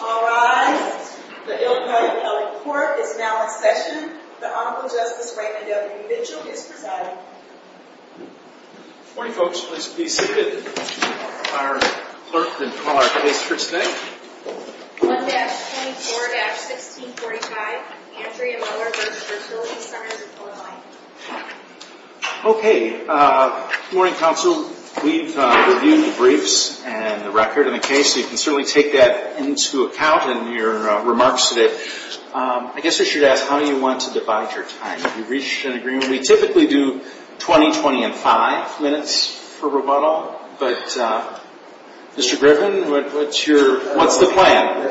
All rise. The Illinois Appellate Court is now in session. The Honorable Justice Raymond W. Mitchell is presiding. Good morning, folks. Let's be seated. I'll call our clerk and call our case for today. 1-24-1645, Andrea Muller v. Fertility Centers of Illinois Okay. Good morning, counsel. We've reviewed the briefs and the record of the case. You can certainly take that into account in your remarks today. I guess I should ask, how do you want to divide your time? Have you reached an agreement? We typically do 20, 20 and 5 minutes for rebuttal, but Mr. Griffin, what's the plan?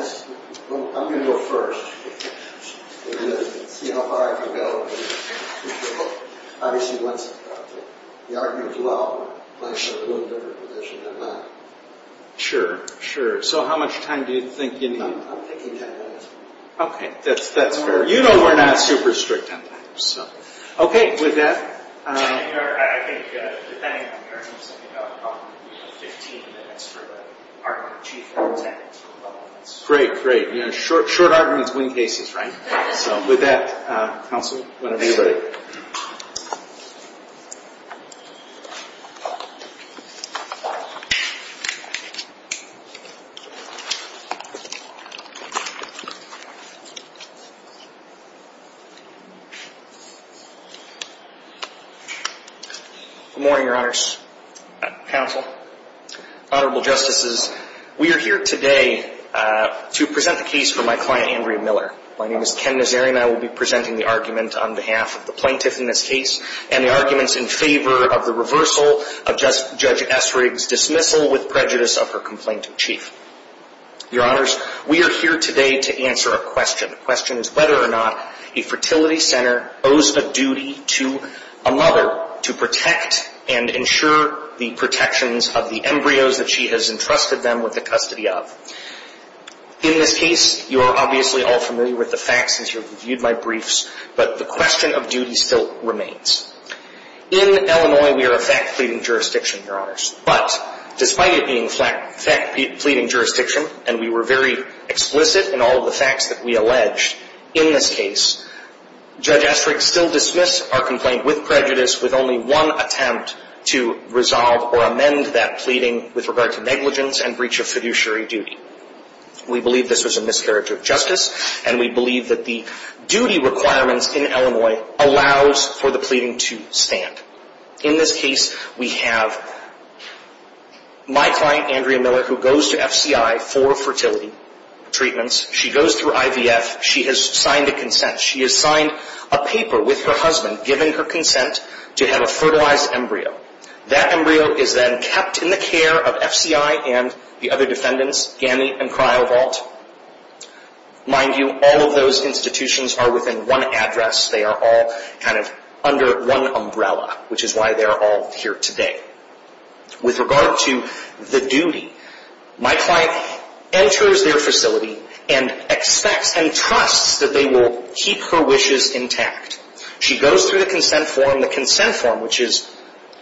I'm going to go first and see how far I can go. Obviously, once the argument is loud, I'm in a different position than that. Sure, sure. So how much time do you think you need? I'm thinking 10 minutes. Okay, that's fair. You know we're not super strict on that. Okay, with that... I think, depending on the urgency, I think I'll call it 15 minutes for the argument. Great, great. Short arguments win cases, right? So with that, counsel, whenever you're ready. Good morning, Your Honors. Counsel, Honorable Justices, we are here today to present the case for my client, Andrea Miller. My name is Ken Nazarian. I will be presenting the argument on behalf of the plaintiff in this case and the arguments in favor of the reversal of Judge Essrig's dismissal with prejudice of her complaint in chief. Your Honors, we are here today to answer a question. The question is whether or not a fertility center owes a duty to a mother to protect and ensure the protections of the embryos that she has entrusted them with the custody of. In this case, you are obviously all familiar with the facts since you've reviewed my briefs, but the question of duty still remains. In Illinois, we are a fact-pleading jurisdiction, Your Honors. But despite it being a fact-pleading jurisdiction, and we were very explicit in all of the facts that we alleged, in this case, Judge Essrig still dismissed our complaint with prejudice with only one attempt to resolve or amend that pleading with regard to negligence and breach of fiduciary duty. We believe this was a miscarriage of justice, and we believe that the duty requirements in Illinois allows for the pleading to stand. In this case, we have my client, Andrea Miller, who goes to FCI for fertility treatments. She goes through IVF. She has signed a consent. She has signed a paper with her husband giving her consent to have a fertilized embryo. That embryo is then kept in the care of FCI and the other defendants, Ganni and Cryovolt. Mind you, all of those institutions are within one address. They are all kind of under one umbrella, which is why they are all here today. With regard to the duty, my client enters their facility and expects and trusts that they will keep her wishes intact. She goes through the consent form. The consent form, which is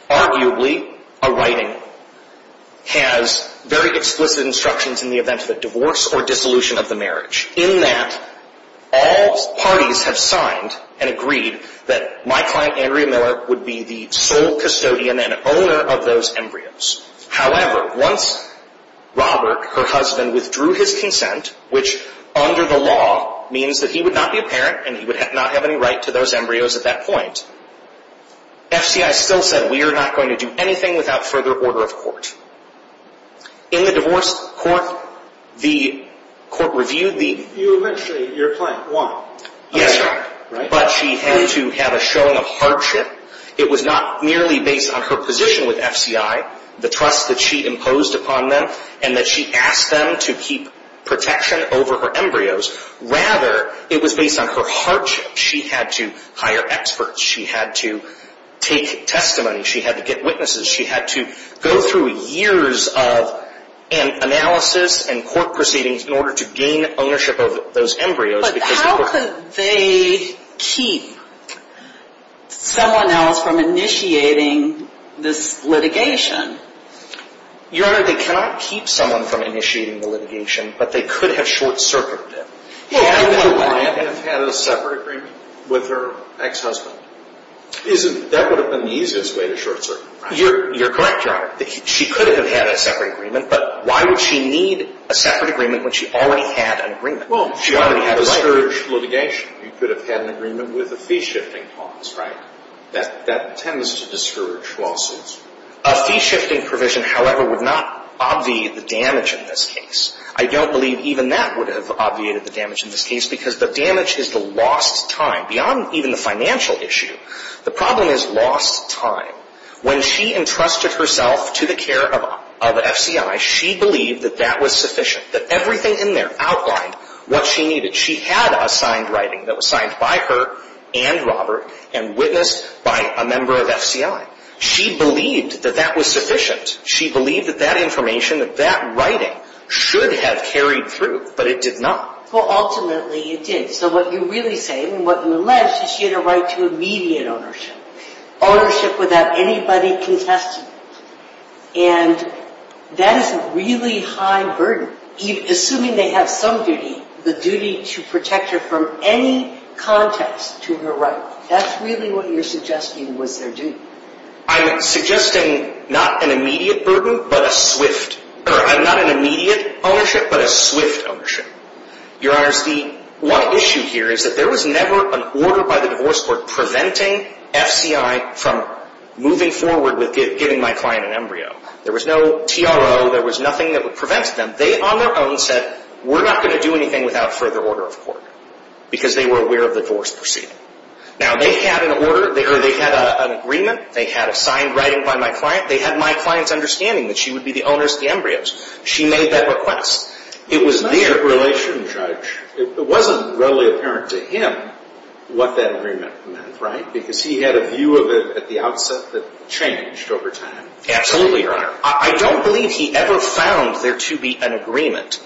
arguably a writing, has very explicit instructions in the event of a divorce or dissolution of the marriage in that all parties have signed and agreed that my client, Andrea Miller, would be the sole custodian and owner of those embryos. However, once Robert, her husband, withdrew his consent, which under the law means that he would not be a parent and he would not have any right to those embryos at that point, FCI still said we are not going to do anything without further order of court. In the divorce court, the court reviewed the... You eventually, your client won. Yes, sir. Right? But she had to have a showing of hardship. It was not merely based on her position with FCI, the trust that she imposed upon them, and that she asked them to keep protection over her embryos. Rather, it was based on her hardship. She had to hire experts. She had to take testimony. She had to get witnesses. She had to go through years of analysis and court proceedings in order to gain ownership of those embryos. But how could they keep someone else from initiating this litigation? Your Honor, they cannot keep someone from initiating the litigation, but they could have short-circuited it. Yeah, I know that. She could have had a separate agreement with her ex-husband. That would have been the easiest way to short-circuit. You're correct, Your Honor. She could have had a separate agreement, but why would she need a separate agreement when she already had an agreement? Well, she already had a separate agreement. Discouraged litigation. You could have had an agreement with a fee-shifting clause, right? That tends to discourage lawsuits. A fee-shifting provision, however, would not obviate the damage in this case. I don't believe even that would have obviated the damage in this case because the damage is the lost time. Beyond even the financial issue, the problem is lost time. When she entrusted herself to the care of FCI, she believed that that was sufficient, that everything in there outlined what she needed. She had a signed writing that was signed by her and Robert and witnessed by a member of FCI. She believed that that was sufficient. She believed that that information, that that writing should have carried through, but it did not. Well, ultimately it did. So what you really say, and what you alleged, is she had a right to immediate ownership. Ownership without anybody contesting it. And that is a really high burden. Assuming they have some duty, the duty to protect her from any context to her right. That's really what you're suggesting was their duty. I'm suggesting not an immediate burden, but a swift. I'm not an immediate ownership, but a swift ownership. Your Honor, the one issue here is that there was never an order by the divorce court preventing FCI from moving forward with giving my client an embryo. There was no TRO. There was nothing that would prevent them. They on their own said, we're not going to do anything without further order of court. Because they were aware of the divorce proceeding. Now, they had an order, or they had an agreement. They had a signed writing by my client. They had my client's understanding that she would be the owner of the embryos. She made that request. It was there. As a relation judge, it wasn't really apparent to him what that agreement meant, right? Because he had a view of it at the outset that changed over time. Absolutely, Your Honor. I don't believe he ever found there to be an agreement.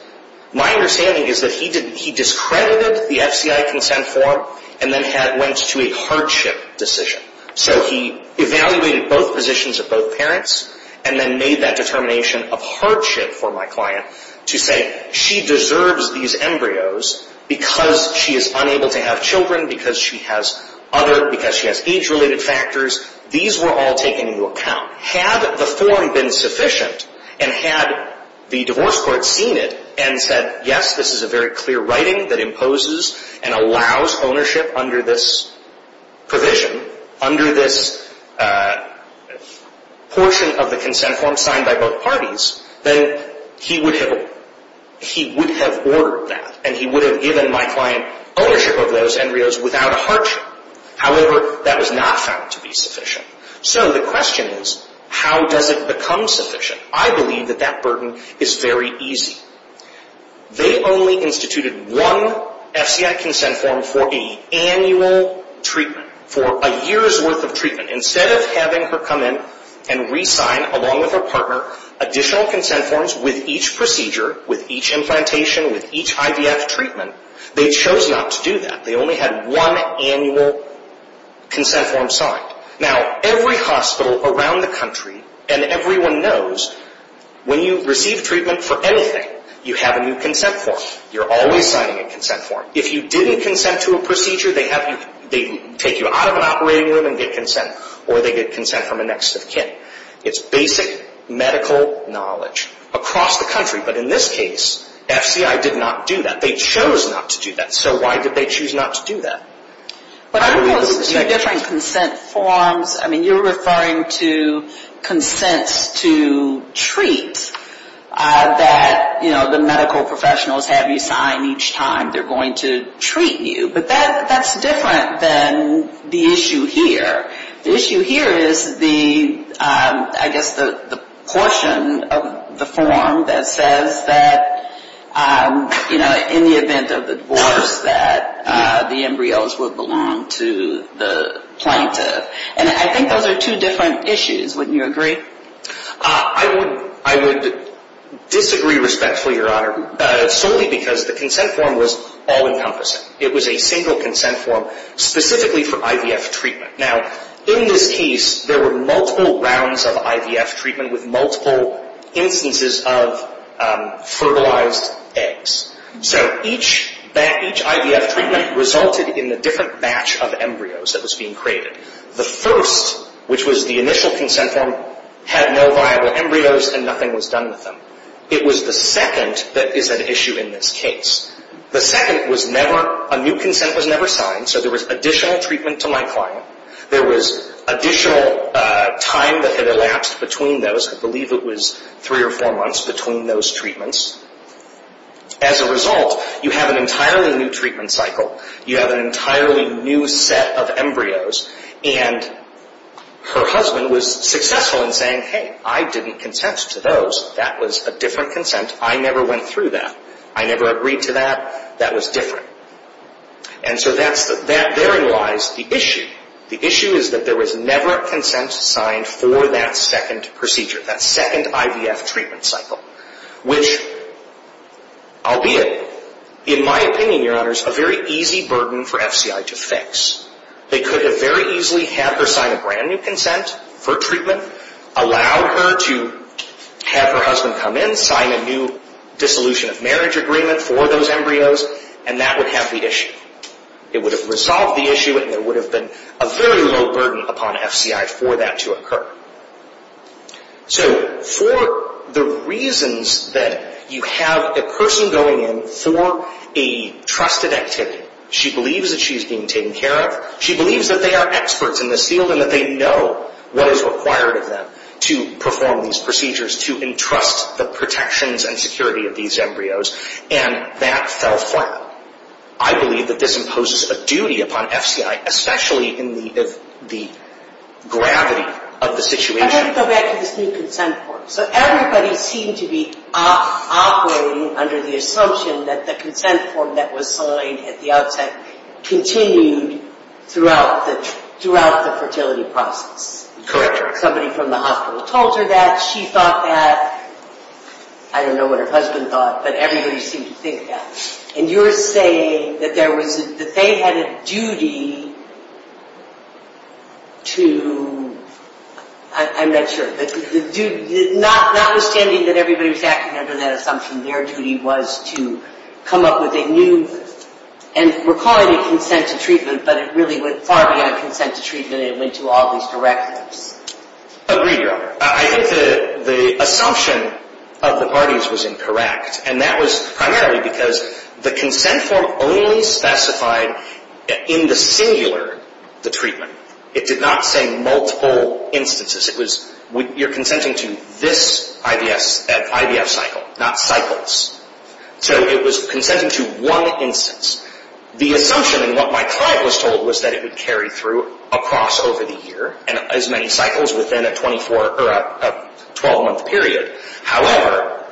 My understanding is that he discredited the FCI consent form and then went to a hardship decision. So he evaluated both positions of both parents and then made that determination of hardship for my client to say, she deserves these embryos because she is unable to have children, because she has age-related factors. These were all taken into account. Had the form been sufficient and had the divorce court seen it and said, yes, this is a very clear writing that imposes and allows ownership under this provision, under this portion of the consent form signed by both parties, then he would have ordered that, and he would have given my client ownership of those embryos without a hardship. However, that was not found to be sufficient. So the question is, how does it become sufficient? I believe that that burden is very easy. They only instituted one FCI consent form for a annual treatment, for a year's worth of treatment. Instead of having her come in and re-sign, along with her partner, additional consent forms with each procedure, with each implantation, with each IVF treatment, they chose not to do that. They only had one annual consent form signed. Now, every hospital around the country and everyone knows, when you receive treatment for anything, you have a new consent form. You're always signing a consent form. If you didn't consent to a procedure, they take you out of an operating room and get consent, or they get consent from a next of kin. It's basic medical knowledge across the country. But in this case, FCI did not do that. They chose not to do that. So why did they choose not to do that? There are two different consent forms. I mean, you're referring to consents to treat that, you know, the medical professionals have you sign each time they're going to treat you. But that's different than the issue here. The issue here is the, I guess, the portion of the form that says that, you know, in the event of the divorce that the embryos would belong to the plaintiff. And I think those are two different issues. Wouldn't you agree? I would disagree respectfully, Your Honor, solely because the consent form was all-encompassing. It was a single consent form specifically for IVF treatment. Now, in this case, there were multiple rounds of IVF treatment with multiple instances of fertilized eggs. So each IVF treatment resulted in a different batch of embryos that was being created. The first, which was the initial consent form, had no viable embryos and nothing was done with them. It was the second that is at issue in this case. The second was never, a new consent was never signed, so there was additional treatment to my client. There was additional time that had elapsed between those. I believe it was three or four months between those treatments. As a result, you have an entirely new treatment cycle. You have an entirely new set of embryos. And her husband was successful in saying, hey, I didn't consent to those. That was a different consent. I never went through that. I never agreed to that. That was different. And so that's the, therein lies the issue. The issue is that there was never a consent signed for that second procedure, that second IVF treatment cycle, which, albeit, in my opinion, Your Honors, a very easy burden for FCI to fix. They could have very easily had her sign a brand new consent for treatment, allowed her to have her husband come in, sign a new dissolution of marriage agreement for those embryos, and that would have the issue. It would have resolved the issue and there would have been a very low burden upon FCI for that to occur. So for the reasons that you have a person going in for a trusted activity, she believes that she's being taken care of, she believes that they are experts in this field and that they know what is required of them to perform these procedures, to entrust the protections and security of these embryos, and that fell flat. I believe that this imposes a duty upon FCI, especially in the gravity of the situation. I have to go back to this new consent form. So everybody seemed to be operating under the assumption that the consent form that was signed at the outset continued throughout the fertility process. Correct. Somebody from the hospital told her that, she thought that. I don't know what her husband thought, but everybody seemed to think that. And you're saying that they had a duty to, I'm not sure, notwithstanding that everybody was acting under that assumption, their duty was to come up with a new, and we're calling it consent to treatment, but it really went far beyond consent to treatment. It went to all these directives. Agreed, Your Honor. I think the assumption of the parties was incorrect, and that was primarily because the consent form only specified in the singular the treatment. It did not say multiple instances. You're consenting to this IVF cycle, not cycles. So it was consenting to one instance. The assumption in what my client was told was that it would carry through across over the year, and as many cycles within a 12-month period. However,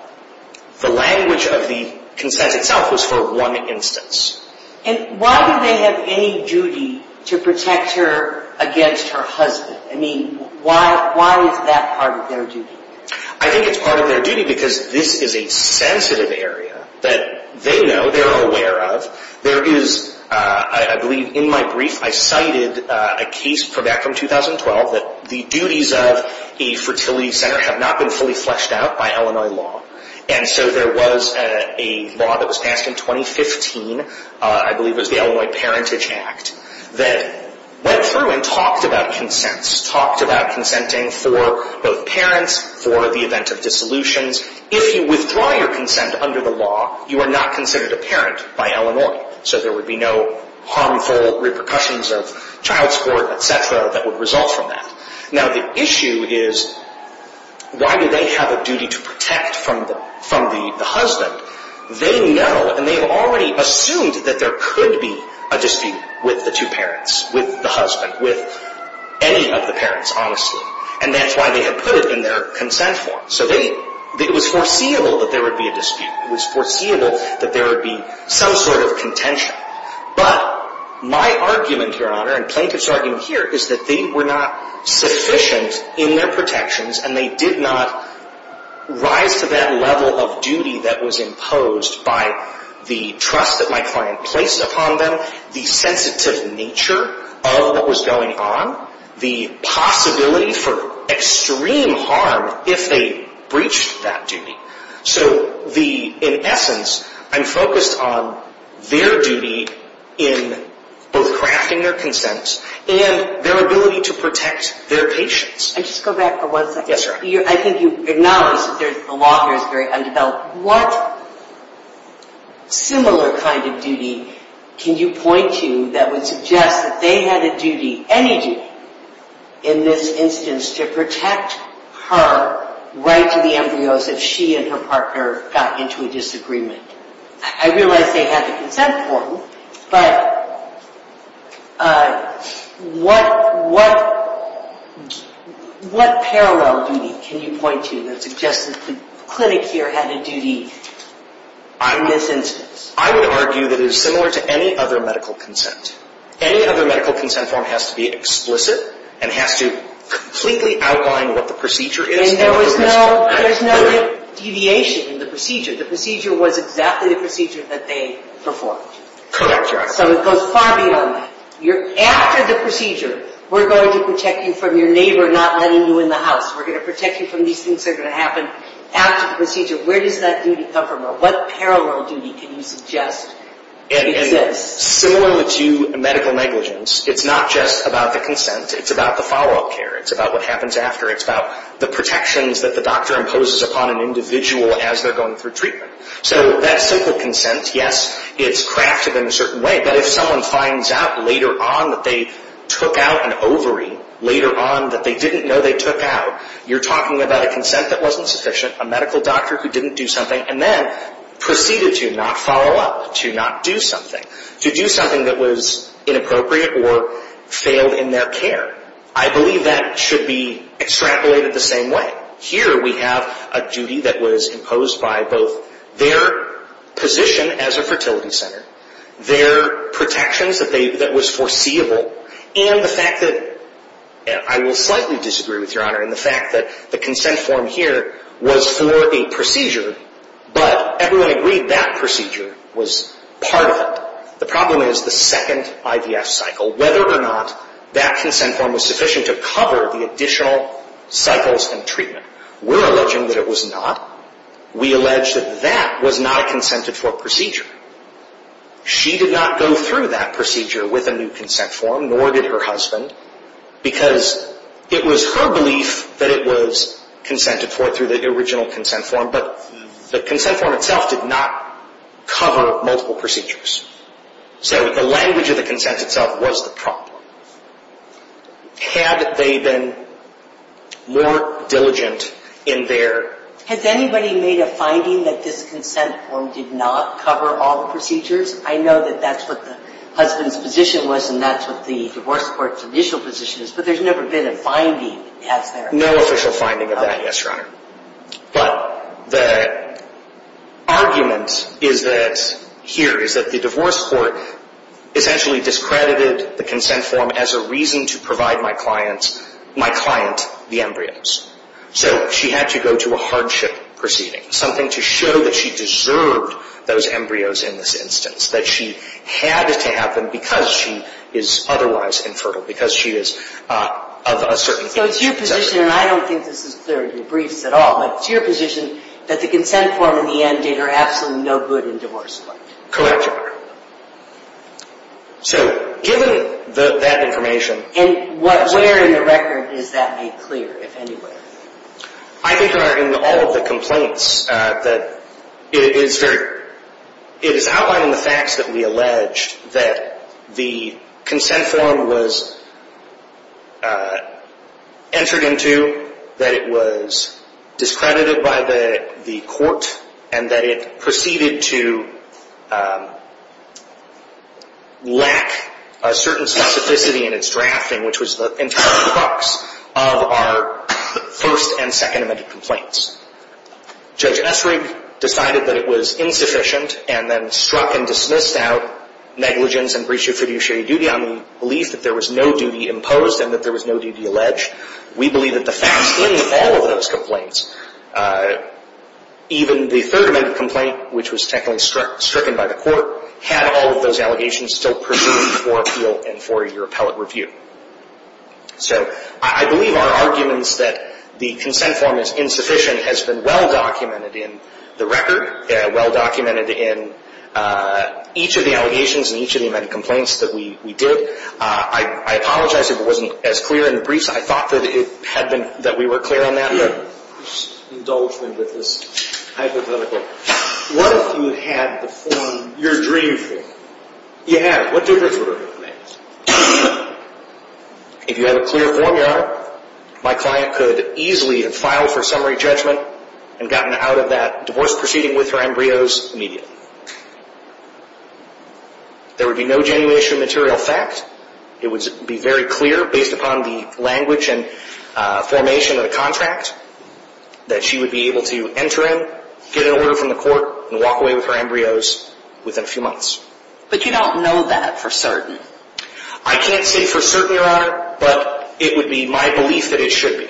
the language of the consent itself was for one instance. And why do they have any duty to protect her against her husband? I mean, why is that part of their duty? I think it's part of their duty because this is a sensitive area that they know, they're aware of. There is, I believe in my brief, I cited a case from back from 2012 that the duties of a fertility center have not been fully fleshed out by Illinois law. And so there was a law that was passed in 2015, I believe it was the Illinois Parentage Act, that went through and talked about consents, talked about consenting for both parents, for the event of dissolutions. If you withdraw your consent under the law, you are not considered a parent by Illinois. So there would be no harmful repercussions of child support, et cetera, that would result from that. Now the issue is, why do they have a duty to protect from the husband? They know, and they've already assumed that there could be a dispute with the two parents, with the husband, with any of the parents, honestly. And that's why they have put it in their consent form. So it was foreseeable that there would be a dispute. It was foreseeable that there would be some sort of contention. But my argument, Your Honor, and plaintiff's argument here is that they were not sufficient in their protections, and they did not rise to that level of duty that was imposed by the trust that my client placed upon them, the sensitive nature of what was going on, the possibility for extreme harm if they breached that duty. So in essence, I'm focused on their duty in both crafting their consent and their ability to protect their patients. And just go back for one second. Yes, Your Honor. I think you acknowledge that the law here is very undeveloped. What similar kind of duty can you point to that would suggest that they had a duty, any duty, in this instance to protect her right to the embryos if she and her partner got into a disagreement? I realize they had a consent form, but what parallel duty can you point to that suggests that the clinic here had a duty in this instance? I would argue that it is similar to any other medical consent. Any other medical consent form has to be explicit and has to completely outline what the procedure is. And there was no deviation in the procedure. The procedure was exactly the procedure that they performed. Correct, Your Honor. So it goes far beyond that. After the procedure, we're going to protect you from your neighbor not letting you in the house. We're going to protect you from these things that are going to happen after the procedure. Where does that duty come from, or what parallel duty can you suggest exists? Similar to medical negligence, it's not just about the consent. It's about the follow-up care. It's about what happens after. It's about the protections that the doctor imposes upon an individual as they're going through treatment. So that simple consent, yes, it's crafted in a certain way. But if someone finds out later on that they took out an ovary, later on that they didn't know they took out, you're talking about a consent that wasn't sufficient, a medical doctor who didn't do something, and then proceeded to not follow up, to not do something, to do something that was inappropriate or failed in their care. I believe that should be extrapolated the same way. Here we have a duty that was imposed by both their position as a fertility center, their protections that was foreseeable, and the fact that, I will slightly disagree with you, Your Honor, and the fact that the consent form here was for a procedure, but everyone agreed that procedure was part of it. The problem is the second IVF cycle, whether or not that consent form was sufficient to cover the additional cycles in treatment. We're alleging that it was not. We allege that that was not a consented-for procedure. She did not go through that procedure with a new consent form, nor did her husband, because it was her belief that it was consented-for through the original consent form, but the consent form itself did not cover multiple procedures. So the language of the consent itself was the problem. Had they been more diligent in their... Has anybody made a finding that this consent form did not cover all the procedures? I know that that's what the husband's position was and that's what the divorce court's initial position is, but there's never been a finding, has there? No official finding of that, yes, Your Honor. But the argument here is that the divorce court essentially discredited the consent form as a reason to provide my client the embryos. So she had to go to a hardship proceeding, something to show that she deserved those embryos in this instance, that she had it to happen because she is otherwise infertile, because she is of a certain... So it's your position, and I don't think this is clearly debriefed at all, but it's your position that the consent form in the end did her absolutely no good in divorce court. Correct, Your Honor. So given that information... And where in the record is that made clear, if anywhere? I think, Your Honor, in all of the complaints that it is very... It is outlined in the facts that we alleged that the consent form was entered into, that it was discredited by the court, and that it proceeded to lack a certain specificity in its drafting, which was the entire crux of our first and second amended complaints. Judge Esrig decided that it was insufficient and then struck and dismissed out negligence and breach of fiduciary duty on the belief that there was no duty imposed and that there was no duty alleged. We believe that the facts in all of those complaints, even the third amended complaint, which was technically stricken by the court, had all of those allegations still pursued for appeal and for your appellate review. So I believe our arguments that the consent form is insufficient has been well documented in the record, well documented in each of the allegations and each of the amended complaints that we did. I apologize if it wasn't as clear in the briefs. I thought that we were clear on that. Indulge me with this hypothetical. What if you had the form you're dreaming for? You have. What difference would it make? If you had a clear form, Your Honor, my client could easily have filed for summary judgment and gotten out of that divorce proceeding with her embryos immediately. There would be no genuination of material fact. It would be very clear, based upon the language and formation of the contract, that she would be able to enter in, get an order from the court, and walk away with her embryos within a few months. But you don't know that for certain. I can't say for certain, Your Honor, but it would be my belief that it should be.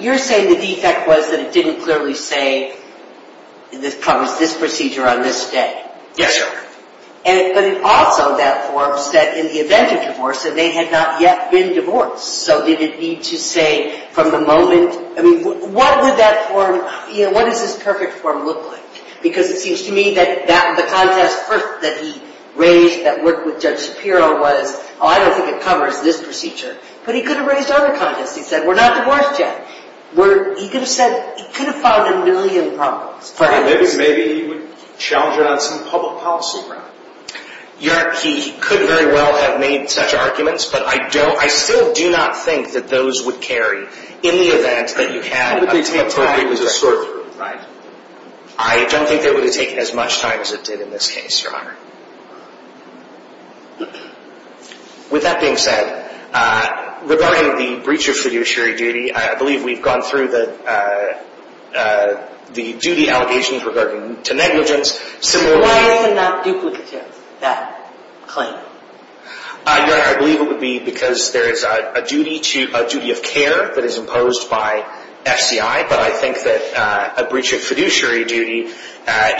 You're saying the defect was that it didn't clearly say this procedure on this day. Yes, Your Honor. But it also, that form, said in the event of divorce that they had not yet been divorced. So did it need to say from the moment? I mean, what would that form, you know, what does this perfect form look like? Because it seems to me that the contest first that he raised that worked with Judge Shapiro was, oh, I don't think it covers this procedure, but he could have raised other contests. He said, we're not divorced yet. He could have said, he could have filed a million problems. Maybe he would challenge it on some public policy ground. Your Honor, he could very well have made such arguments, but I still do not think that those would carry in the event that you had a temporary defect. I don't think they would have taken as much time as it did in this case, Your Honor. With that being said, regarding the breach of fiduciary duty, I believe we've gone through the duty allegations regarding to negligence. Why is it not duplicative, that claim? Your Honor, I believe it would be because there is a duty of care that is imposed by FCI, but I think that a breach of fiduciary duty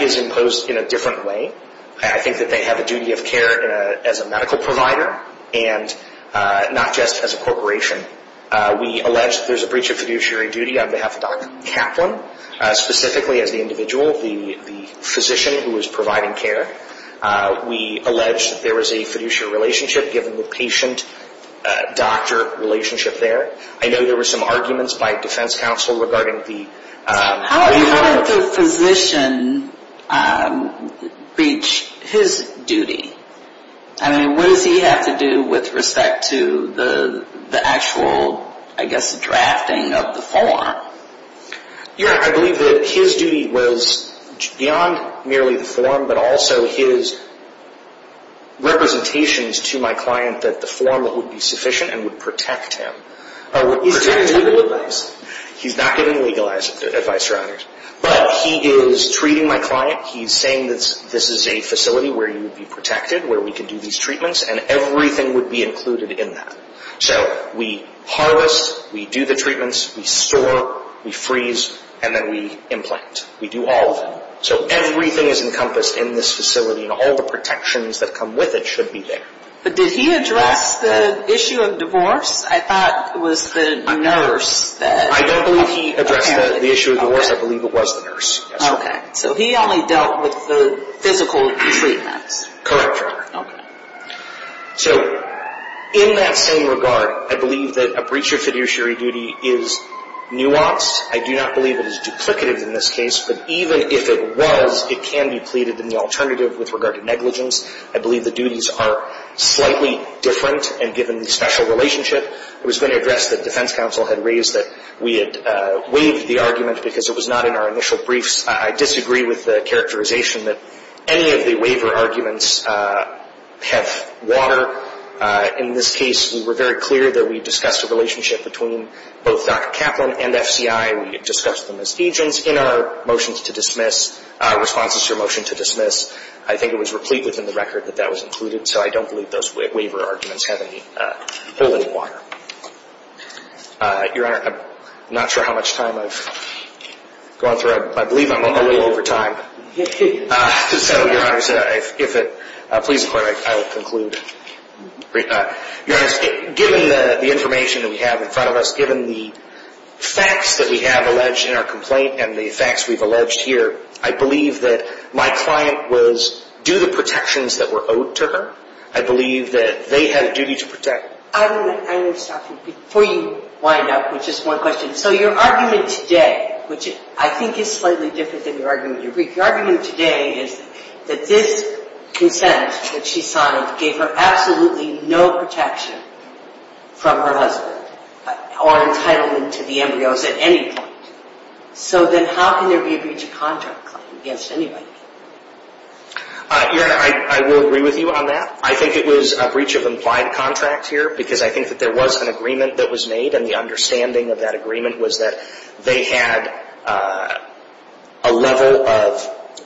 is imposed in a different way. I think that they have a duty of care as a medical provider and not just as a corporation. We allege that there's a breach of fiduciary duty on behalf of Dr. Kaplan, specifically as the individual, the physician who was providing care. We allege that there was a fiduciary relationship given the patient-doctor relationship there. I know there were some arguments by defense counsel regarding the... How did the physician breach his duty? I mean, what does he have to do with respect to the actual, I guess, drafting of the form? Your Honor, I believe that his duty was beyond merely the form, but also his representations to my client that the form would be sufficient and would protect him. He's getting legal advice. He's not getting legal advice, Your Honor. But he is treating my client. He's saying that this is a facility where you would be protected, where we could do these treatments, and everything would be included in that. So we harvest, we do the treatments, we store, we freeze, and then we implant. We do all of it. So everything is encompassed in this facility, and all the protections that come with it should be there. But did he address the issue of divorce? I thought it was the nurse that apparently... I don't believe he addressed the issue of divorce. I believe it was the nurse. Okay. So he only dealt with the physical treatments. Correct, Your Honor. Okay. So in that same regard, I believe that a breach of fiduciary duty is nuanced. I do not believe it is duplicative in this case, but even if it was, it can be pleaded in the alternative with regard to negligence. I believe the duties are slightly different, and given the special relationship, it was going to address the defense counsel had raised that we had waived the argument because it was not in our initial briefs. I disagree with the characterization that any of the waiver arguments have water. In this case, we were very clear that we discussed a relationship between both Dr. Kaplan and FCI. We discussed them as agents in our motions to dismiss, responses to a motion to dismiss. I think it was replete within the record that that was included, so I don't believe those waiver arguments have any hole in the water. Your Honor, I'm not sure how much time I've gone through. I believe I'm a little over time. So, Your Honor, please inquire. I will conclude. Your Honor, given the information that we have in front of us, given the facts that we have alleged in our complaint and the facts we've alleged here, I believe that my client was due the protections that were owed to her. I believe that they had a duty to protect. I want to stop you before you wind up with just one question. So your argument today, which I think is slightly different than your argument in your brief, your argument today is that this consent that she signed gave her absolutely no protection from her husband or entitlement to the embryos at any point. So then how can there be a breach of contract claim against anybody? Your Honor, I will agree with you on that. I think it was a breach of implied contract here because I think that there was an agreement that was made and the understanding of that agreement was that they had a level of,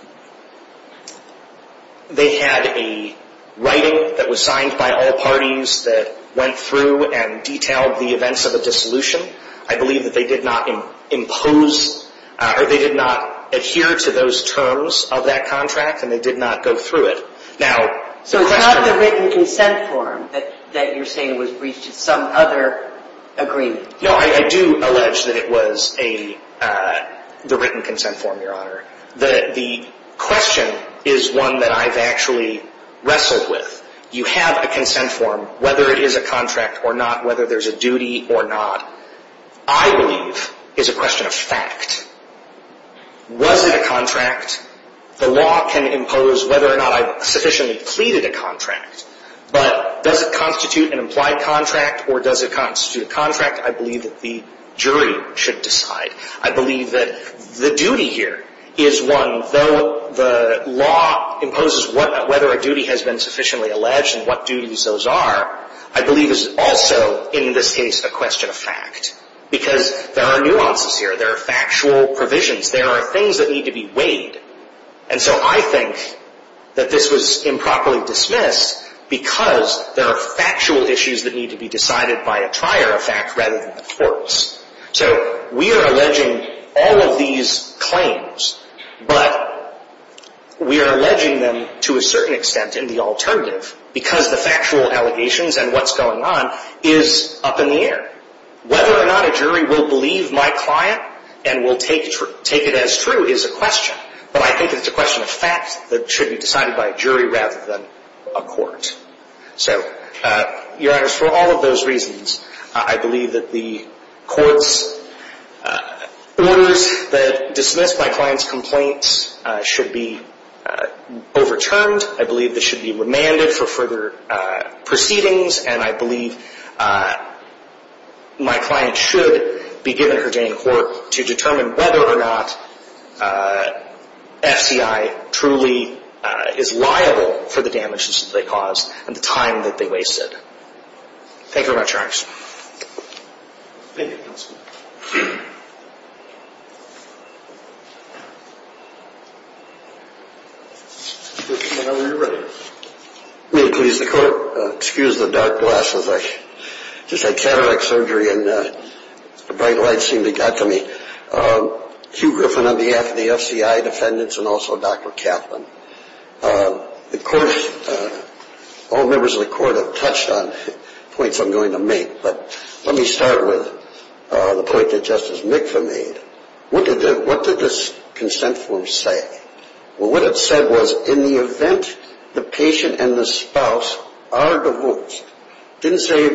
they had a writing that was signed by all parties that went through and detailed the events of a dissolution. I believe that they did not impose or they did not adhere to those terms of that contract and they did not go through it. So it's not the written consent form that you're saying was breached in some other agreement? No, I do allege that it was the written consent form, Your Honor. The question is one that I've actually wrestled with. You have a consent form, whether it is a contract or not, whether there's a duty or not, I believe is a question of fact. Was it a contract? The law can impose whether or not I've sufficiently pleaded a contract, but does it constitute an implied contract or does it constitute a contract? I believe that the jury should decide. I believe that the duty here is one, though the law imposes whether a duty has been sufficiently alleged and what duties those are, I believe is also in this case a question of fact because there are nuances here, there are factual provisions, there are things that need to be weighed. And so I think that this was improperly dismissed because there are factual issues that need to be decided by a trier of fact rather than the courts. So we are alleging all of these claims, but we are alleging them to a certain extent in the alternative because the factual allegations and what's going on is up in the air. Whether or not a jury will believe my client and will take it as true is a question, but I think it's a question of fact that should be decided by a jury rather than a court. So, Your Honors, for all of those reasons, I believe that the court's orders that dismissed my client's complaints should be overturned. I believe this should be remanded for further proceedings, and I believe my client should be given her day in court to determine whether or not the FCI truly is liable for the damages that they caused and the time that they wasted. Thank you very much, Your Honors. Thank you, Counselor. Whenever you're ready. May it please the Court. Excuse the dark glasses. I just had cataract surgery and the bright lights seem to have got to me. Hugh Griffin on behalf of the FCI defendants and also Dr. Kaplan. Of course, all members of the Court have touched on points I'm going to make, but let me start with the point that Justice Mikva made. What did this consent form say? Well, what it said was in the event the patient and the spouse are divorced, it didn't say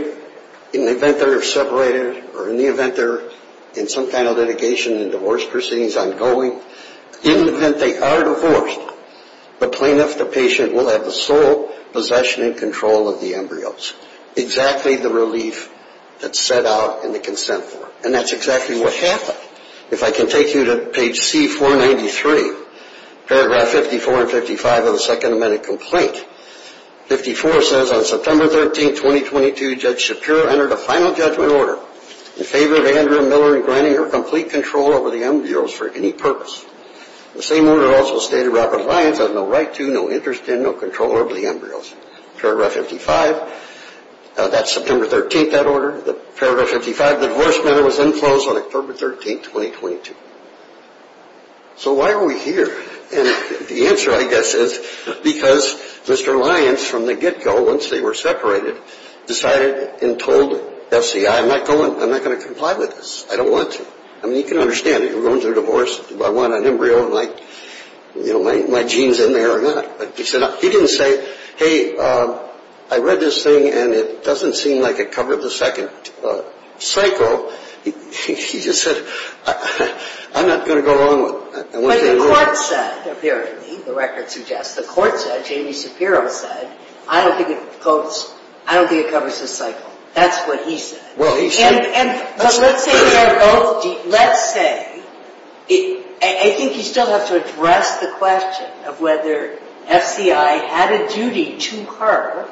in the event they're separated or in the event they're in some kind of litigation and divorce proceedings ongoing. In the event they are divorced, the plaintiff, the patient, will have the sole possession and control of the embryos, exactly the relief that's set out in the consent form. And that's exactly what happened. If I can take you to page C-493, paragraph 54 and 55 of the Second Amendment complaint, 54 says, On September 13, 2022, Judge Shapiro entered a final judgment order in favor of Andrea Miller in granting her complete control over the embryos for any purpose. The same order also stated Rapid Alliance has no right to, no interest in, no control over the embryos. Paragraph 55, that's September 13th, that order. Paragraph 55, the divorce matter was then closed on October 13, 2022. So why are we here? And the answer, I guess, is because Mr. Lyons, from the get-go, once they were separated, decided and told FCI, I'm not going, I'm not going to comply with this. I don't want to. I mean, you can understand it. You're going through a divorce. Do I want an embryo? Am I, you know, my genes in there or not? But he said, he didn't say, Hey, I read this thing and it doesn't seem like it covered the second cycle. He just said, I'm not going to go along with it. But the court said, apparently, the record suggests, the court said, Jamie Shapiro said, I don't think it goes, I don't think it covers this cycle. That's what he said. And let's say, I think you still have to address the question of whether FCI had a duty to her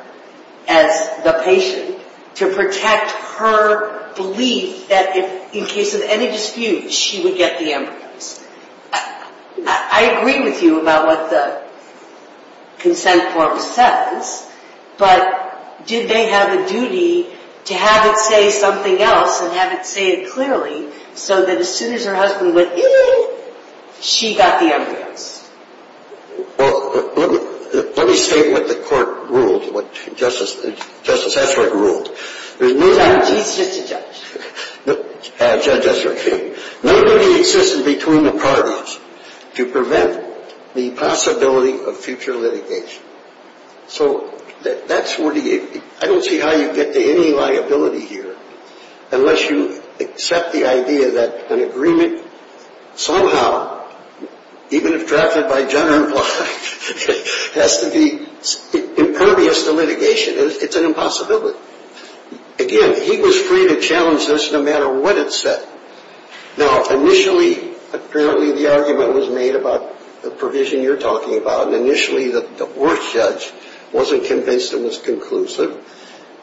as the patient to protect her belief that if, in case of any dispute, she would get the embryos. I agree with you about what the consent form says, but did they have a duty to have it say something else and have it say it clearly so that as soon as her husband went, you know, she got the embryos? Well, let me state what the court ruled, what Justice Esserich ruled. There's no need to exist between the parties to prevent the possibility of future litigation. So that's where the, I don't see how you get to any liability here unless you accept the idea that an agreement, somehow, even if drafted by general law, has to be impervious to litigation. It's an impossibility. Again, he was free to challenge this no matter what it said. Now, initially, apparently, the argument was made about the provision you're talking about, and initially the worst judge wasn't convinced it was conclusive.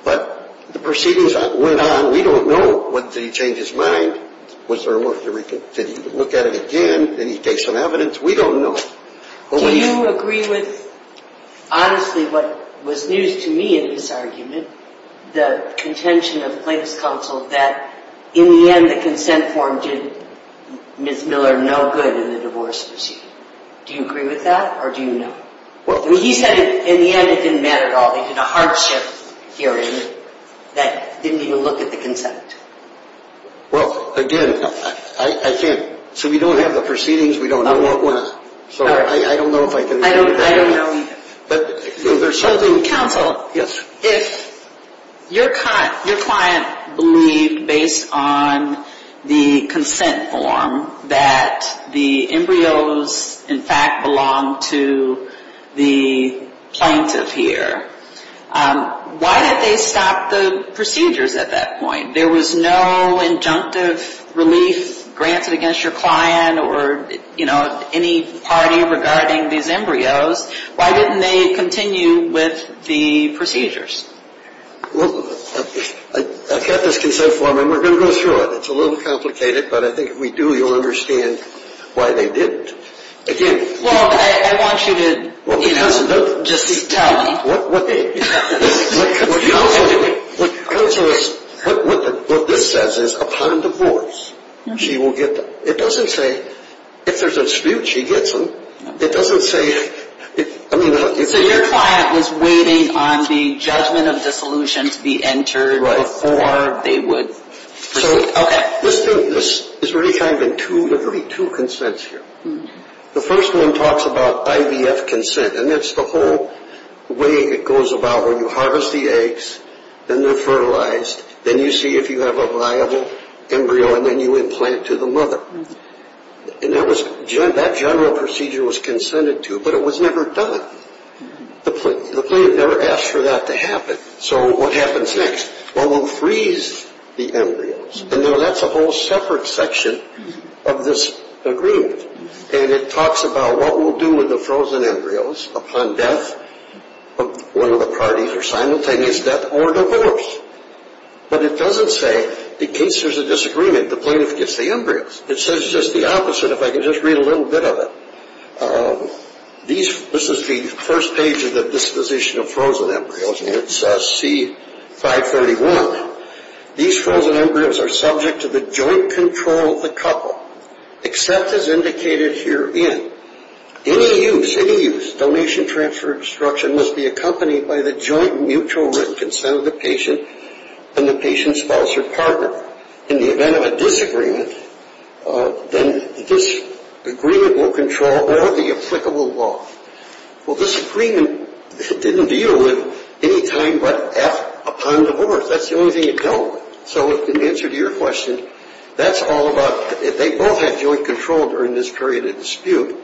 But the proceedings went on. We don't know, what, did he change his mind? Did he look at it again? Did he take some evidence? We don't know. Do you agree with, honestly, what was news to me in this argument, the contention of the plaintiff's counsel that in the end the consent form did Ms. Miller no good in the divorce proceeding? Do you agree with that, or do you not? He said in the end it didn't matter at all. They did a hardship hearing that didn't even look at the consent. Well, again, I can't. So we don't have the proceedings. We don't know what went on. I don't know if I can agree with that. I don't know either. Counsel, if your client believed, based on the consent form, that the embryos, in fact, belonged to the plaintiff here, why did they stop the procedures at that point? There was no injunctive relief granted against your client or any party regarding these embryos. Why didn't they continue with the procedures? Well, I've got this consent form, and we're going to go through it. It's a little complicated, but I think if we do, you'll understand why they didn't. Well, I want you to just tell me. What way? Counsel, what this says is, upon divorce, she will get them. It doesn't say if there's a dispute, she gets them. It doesn't say. So your client was waiting on the judgment of dissolution to be entered before they would proceed? Okay. There's really two consents here. The first one talks about IVF consent, and that's the whole way it goes about where you harvest the eggs, then they're fertilized, then you see if you have a viable embryo, and then you implant to the mother. And that general procedure was consented to, but it was never done. The plaintiff never asked for that to happen. So what happens next? Well, we'll freeze the embryos. And now that's a whole separate section of this agreement, and it talks about what we'll do with the frozen embryos upon death of one of the parties, or simultaneous death, or divorce. But it doesn't say, in case there's a disagreement, the plaintiff gets the embryos. It says just the opposite, if I could just read a little bit of it. This is the first page of the disposition of frozen embryos, and it says C541. These frozen embryos are subject to the joint control of the couple, except as indicated herein. Any use, any use, donation, transfer, instruction, must be accompanied by the joint mutual written consent of the patient and the patient's spouse or partner. In the event of a disagreement, then this agreement will control all of the applicable law. Well, this agreement didn't deal with any time but F upon divorce. That's the only thing it dealt with. So in answer to your question, that's all about they both had joint control during this period of dispute.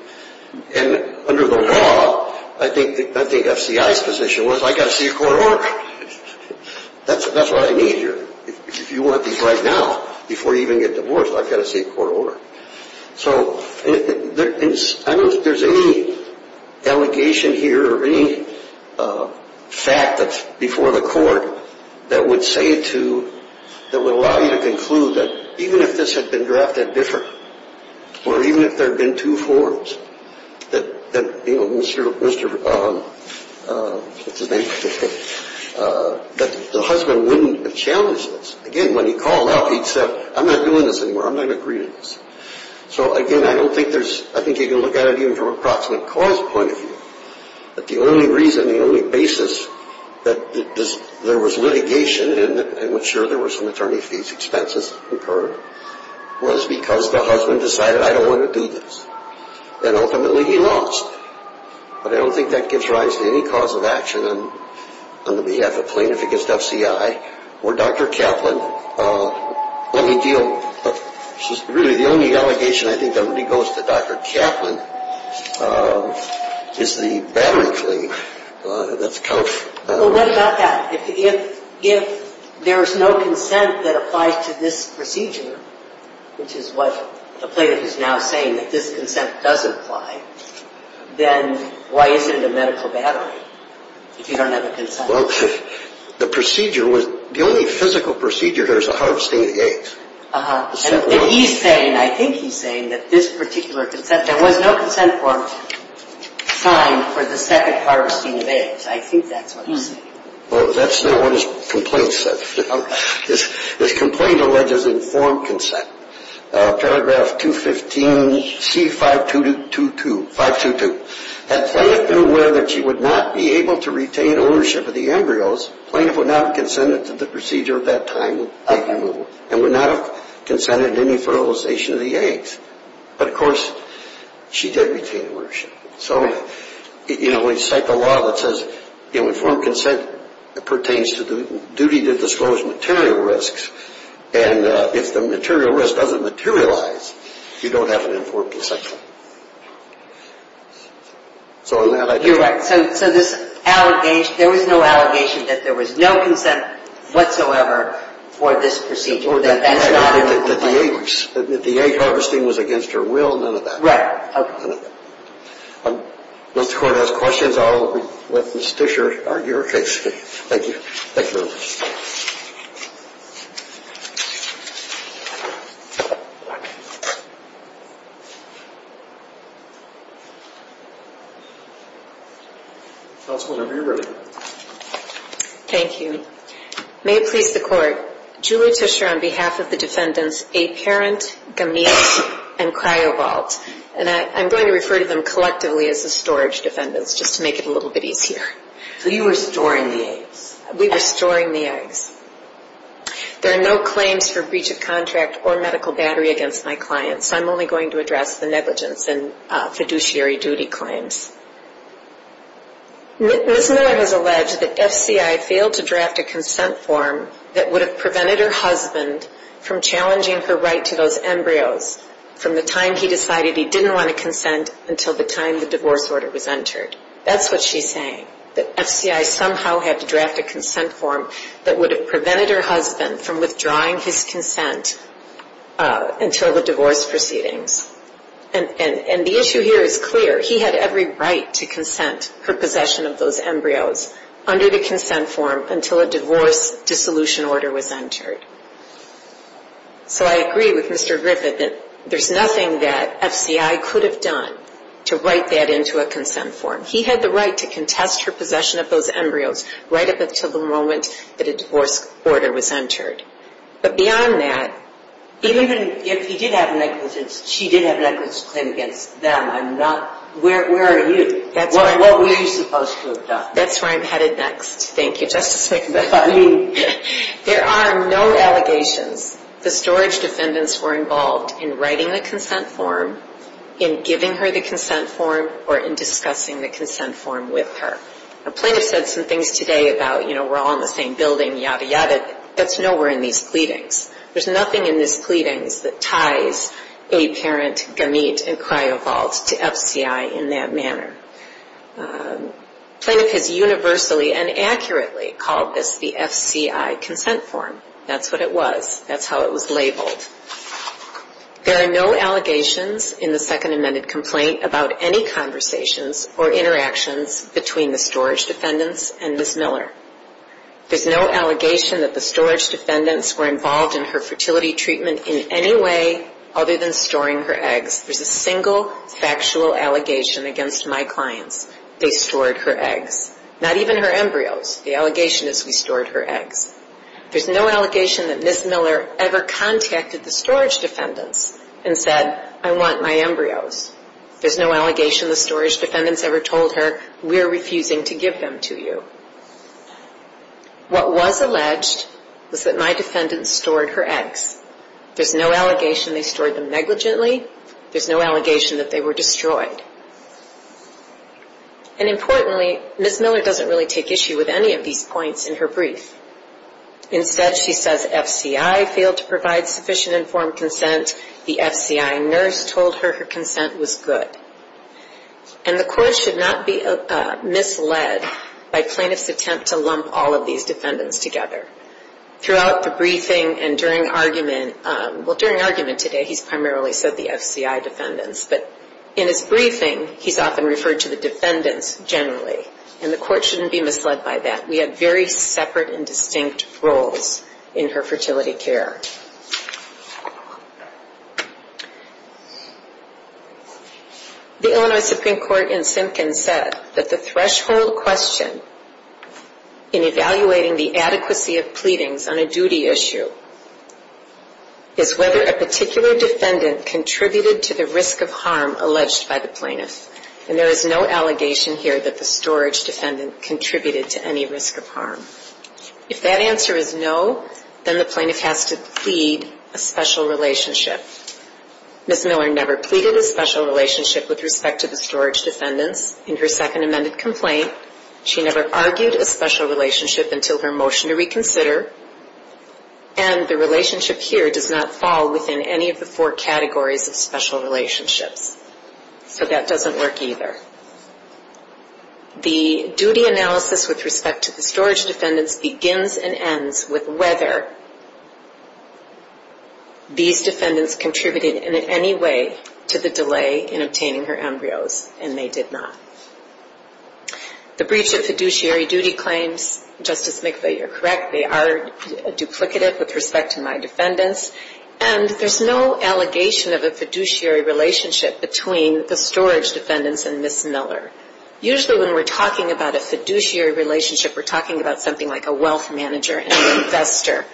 And under the law, I think FCI's position was I've got to see a court order. That's what I mean here. If you want these right now, before you even get divorced, I've got to see a court order. So I don't think there's any allegation here or any fact before the court that would say to, that would allow you to conclude that even if this had been drafted differently, or even if there had been two forms, that the husband wouldn't have challenged this. Again, when he called out, he said, I'm not doing this anymore. I'm not agreeing to this. So again, I don't think there's, I think you can look at it even from an approximate cause point of view, that the only reason, the only basis that there was litigation and I'm sure there were some attorney fees expenses incurred, was because the husband decided I don't want to do this. And ultimately he lost. But I don't think that gives rise to any cause of action on the behalf of plaintiff against FCI or Dr. Kaplan. Let me deal, really the only allegation I think that really goes to Dr. Kaplan is the battery claim. Well, what about that? If there's no consent that applies to this procedure, which is what the plaintiff is now saying that this consent does apply, then why isn't it a medical battery if you don't have a consent? Well, the procedure was, the only physical procedure there is a harvesting of eggs. Uh-huh. And he's saying, I think he's saying that this particular consent, there was no consent form signed for the second harvesting of eggs. I think that's what he's saying. Well, that's not what his complaint said. His complaint alleges informed consent. Paragraph 215C5222, 522. Had plaintiff been aware that she would not be able to retain ownership of the embryos, plaintiff would not have consented to the procedure at that time, arguably, and would not have consented to any fertilization of the eggs. But, of course, she did retain ownership. So, you know, when you cite the law that says informed consent pertains to the duty to disclose material risks, and if the material risk doesn't materialize, you don't have an informed consent. You're right. So this allegation, there was no allegation that there was no consent whatsoever for this procedure. That's not in the complaint. The egg harvesting was against her will, none of that. Right. If the Court has questions, I'll let Ms. Disher argue her case. Thank you. Thank you very much. Thank you. Counsel, whenever you're ready. Thank you. May it please the Court. Julie Disher on behalf of the defendants, Aparent, Gamil, and Cryovolt, and I'm going to refer to them collectively as the storage defendants just to make it a little bit easier. So you were storing the eggs? We were storing the eggs. There are no claims for breach of contract or medical battery against my client, so I'm only going to address the negligence and fiduciary duty claims. Ms. Miller has alleged that FCI failed to draft a consent form that would have prevented her husband from challenging her right to those embryos from the time he decided he didn't want to consent until the time the divorce order was entered. That's what she's saying, that FCI somehow had to draft a consent form that would have prevented her husband from withdrawing his consent until the divorce proceedings. And the issue here is clear. He had every right to consent her possession of those embryos under the consent form until a divorce dissolution order was entered. So I agree with Mr. Griffith that there's nothing that FCI could have done to write that into a consent form. He had the right to contest her possession of those embryos right up until the moment that a divorce order was entered. But beyond that... Even if he did have negligence, she did have a negligence claim against them. Where are you? What were you supposed to have done? That's where I'm headed next. Thank you, Justice McInnes. There are no allegations. The storage defendants were involved in writing the consent form, in giving her the consent form, or in discussing the consent form with her. A plaintiff said some things today about, you know, we're all in the same building, yada yada. That's nowhere in these pleadings. There's nothing in these pleadings that ties a parent, gamete, and cryovolt to FCI in that manner. The plaintiff has universally and accurately called this the FCI consent form. That's what it was. That's how it was labeled. There are no allegations in the Second Amended Complaint about any conversations or interactions between the storage defendants and Ms. Miller. There's no allegation that the storage defendants were involved in her fertility treatment in any way other than storing her eggs. There's a single factual allegation against my clients. They stored her eggs. Not even her embryos. The allegation is we stored her eggs. There's no allegation that Ms. Miller ever contacted the storage defendants and said, I want my embryos. There's no allegation the storage defendants ever told her, we're refusing to give them to you. What was alleged was that my defendants stored her eggs. There's no allegation they stored them negligently. There's no allegation that they were destroyed. And importantly, Ms. Miller doesn't really take issue with any of these points in her brief. Instead, she says FCI failed to provide sufficient informed consent. The FCI nurse told her her consent was good. And the court should not be misled by plaintiff's attempt to lump all of these defendants together. Throughout the briefing and during argument, well during argument today, he's primarily said the FCI defendants. But in his briefing, he's often referred to the defendants generally. And the court shouldn't be misled by that. We have very separate and distinct roles in her fertility care. The Illinois Supreme Court in Simpkins said that the threshold question in evaluating the adequacy of pleadings on a duty issue is whether a particular defendant contributed to the risk of harm alleged by the plaintiff. And there is no allegation here that the storage defendant contributed to any risk of harm. If that answer is no, then the plaintiff has to plead a special relationship. Ms. Miller never pleaded a special relationship with respect to the storage defendants in her second amended complaint. She never argued a special relationship until her motion to reconsider. And the relationship here does not fall within any of the four categories of special relationships. So that doesn't work either. The duty analysis with respect to the storage defendants begins and ends with whether these defendants contributed in any way to the delay in obtaining her embryos. And they did not. The breach of fiduciary duty claims, Justice McVeigh, you're correct, they are duplicative with respect to my defendants. And there's no allegation of a fiduciary relationship between the storage defendants and Ms. Miller. Usually when we're talking about a fiduciary relationship, we're talking about something like a wealth manager and an investor,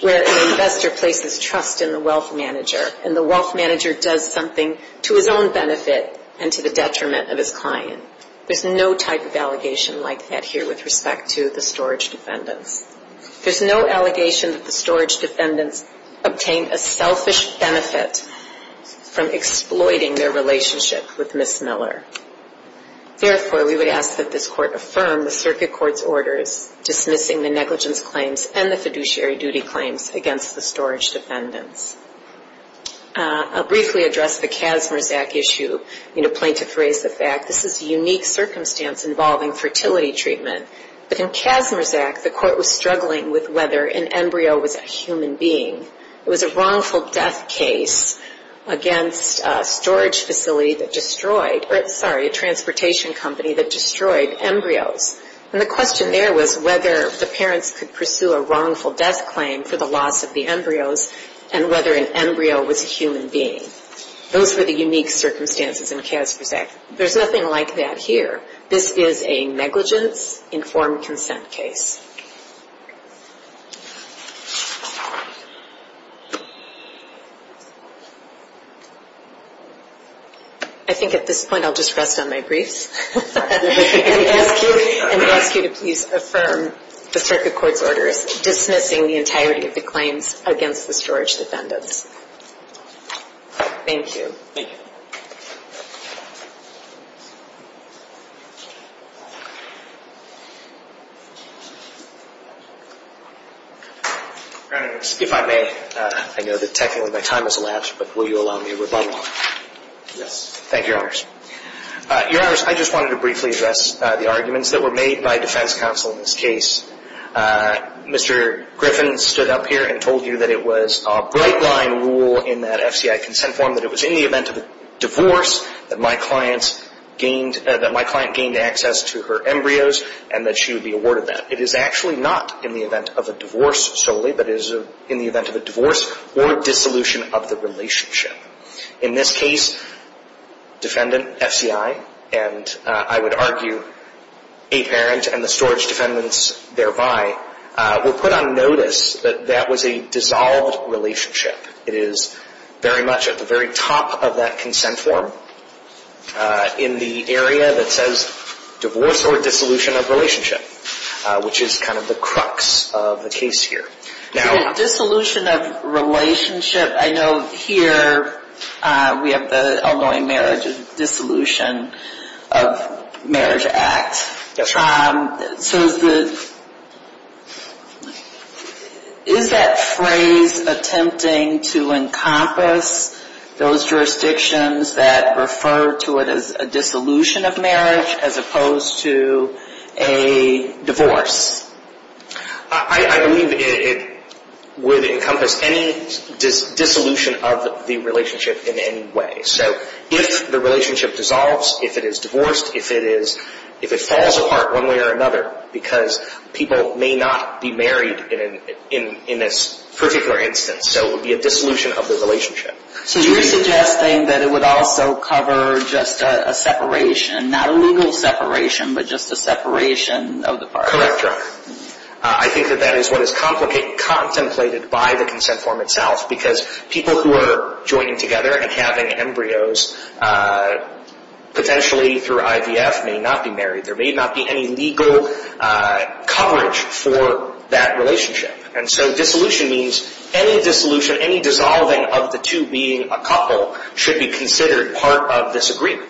where an investor places trust in the wealth manager, and the wealth manager does something to his own benefit and to the detriment of his client. There's no type of allegation like that here with respect to the storage defendants. There's no allegation that the storage defendants obtained a selfish benefit from exploiting their relationship with Ms. Miller. Therefore, we would ask that this Court affirm the Circuit Court's orders dismissing the negligence claims and the fiduciary duty claims against the storage defendants. I'll briefly address the CASMRS Act issue. Plaintiff raised the fact this is a unique circumstance involving fertility treatment. But in CASMRS Act, the Court was struggling with whether an embryo was a human being. It was a wrongful death case against a storage facility that destroyed, sorry, a transportation company that destroyed embryos. And the question there was whether the parents could pursue a wrongful death claim for the loss of the embryos and whether an embryo was a human being. Those were the unique circumstances in CASMRS Act. There's nothing like that here. This is a negligence informed consent case. I think at this point I'll just rest on my briefs. And we ask you to please affirm the Circuit Court's orders dismissing the entirety of the claims against the storage defendants. Thank you. Thank you. Your Honor, if I may, I know that technically my time has elapsed, but will you allow me a rebuttal? Yes. Thank you, Your Honor. Your Honor, I just wanted to briefly address the arguments that were made by defense counsel in this case. Mr. Griffin stood up here and told you that it was a bright-line rule in that FCI consent form that it was in the event of a divorce that my client gained access to her embryos and that she would be awarded that. It is actually not in the event of a divorce solely, but it is in the event of a divorce or dissolution of the relationship. In this case, defendant, FCI, and I would argue a parent and the storage defendants thereby were put on notice that that was a dissolved relationship. It is very much at the very top of that consent form in the area that says divorce or dissolution of relationship, which is kind of the crux of the case here. Dissolution of relationship. I know here we have the Illinois Marriage Dissolution of Marriage Act. Is that phrase attempting to encompass those jurisdictions that refer to it as a dissolution of marriage as opposed to a divorce? I believe it would encompass any dissolution of the relationship in any way. So if the relationship dissolves, if it is divorced, if it falls apart one way or another because people may not be married in this particular instance, so it would be a dissolution of the relationship. So you're suggesting that it would also cover just a separation, not a legal separation, but just a separation of the parties? Correct, Your Honor. I think that that is what is contemplated by the consent form itself because people who are joining together and having embryos potentially through IVF may not be married. There may not be any legal coverage for that relationship. And so dissolution means any dissolution, any dissolving of the two being a couple should be considered part of this agreement.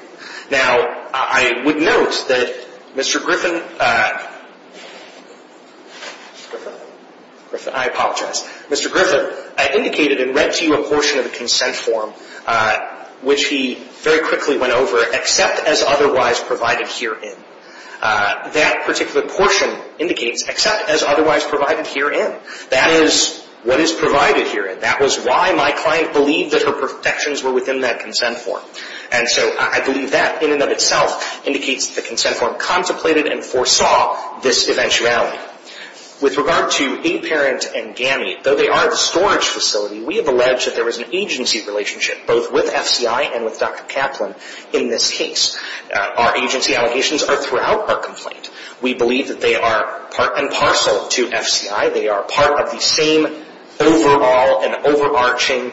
Now, I would note that Mr. Griffin, I apologize, Mr. Griffin indicated and read to you a portion of the consent form which he very quickly went over, except as otherwise provided herein. That particular portion indicates except as otherwise provided herein. That is what is provided herein. That was why my client believed that her protections were within that consent form. And so I believe that in and of itself indicates the consent form contemplated and foresaw this eventuality. With regard to a parent and GAMI, though they are the storage facility, we have alleged that there was an agency relationship both with FCI and with Dr. Kaplan in this case. Our agency allegations are throughout our complaint. We believe that they are part and parcel to FCI. They are part of the same overall and overarching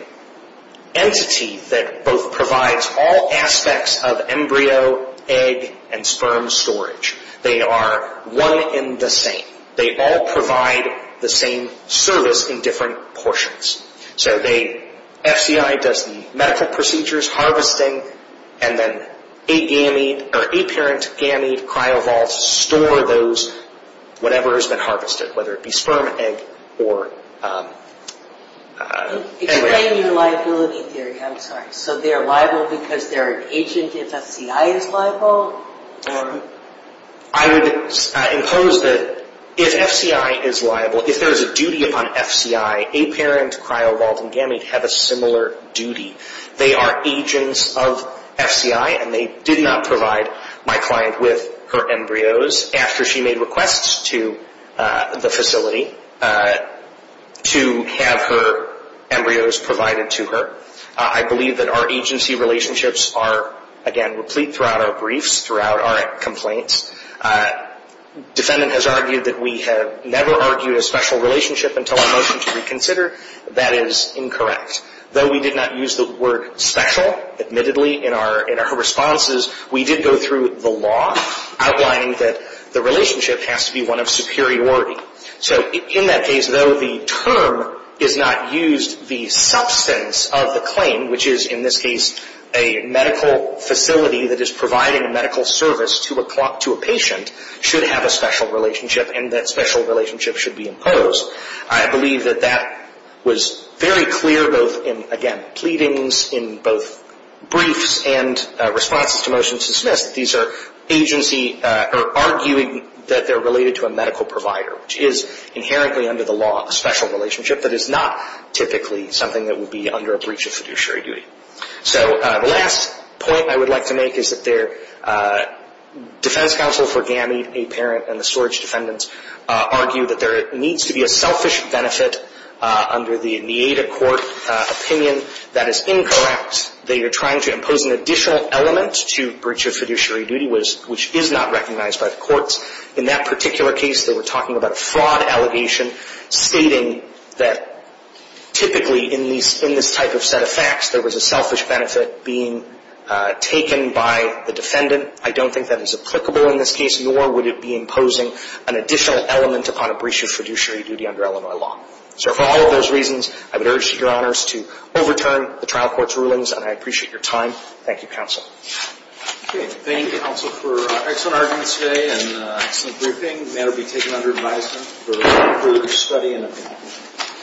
entity that both provides all aspects of embryo, egg, and sperm storage. They are one in the same. They all provide the same service in different portions. So FCI does the medical procedures, harvesting, and then a parent GAMI cryovolts store those whatever has been harvested, whether it be sperm, egg, or embryo. Explain your liability theory. I'm sorry. So they're liable because they're an agent if FCI is liable? I would impose that if FCI is liable, if there is a duty upon FCI, a parent cryovolting GAMI would have a similar duty. They are agents of FCI, and they did not provide my client with her embryos. This is after she made requests to the facility to have her embryos provided to her. I believe that our agency relationships are, again, replete throughout our briefs, throughout our complaints. Defendant has argued that we have never argued a special relationship until our motion to reconsider. That is incorrect. Though we did not use the word special, admittedly, in our responses, we did go through the law outlining that the relationship has to be one of superiority. So in that case, though the term is not used, the substance of the claim, which is in this case a medical facility that is providing a medical service to a patient, should have a special relationship, and that special relationship should be imposed. I believe that that was very clear both in, again, pleadings in both briefs and responses to motions dismissed. These are arguing that they're related to a medical provider, which is inherently under the law a special relationship that is not typically something that would be under a breach of fiduciary duty. So the last point I would like to make is that their defense counsel for GAMI, a parent, and the storage defendants argue that there needs to be a selfish benefit under the NEADA court opinion. That is incorrect. They are trying to impose an additional element to breach of fiduciary duty, which is not recognized by the courts. In that particular case, they were talking about a fraud allegation, stating that typically in this type of set of facts, there was a selfish benefit being taken by the defendant. I don't think that is applicable in this case, nor would it be imposing an additional element upon a breach of fiduciary duty under Illinois law. So for all of those reasons, I would urge your honors to overturn the trial court's rulings, and I appreciate your time. Thank you, counsel. Okay. Thank you, counsel, for excellent arguments today and an excellent briefing. The matter will be taken under advisement for further study and opinion.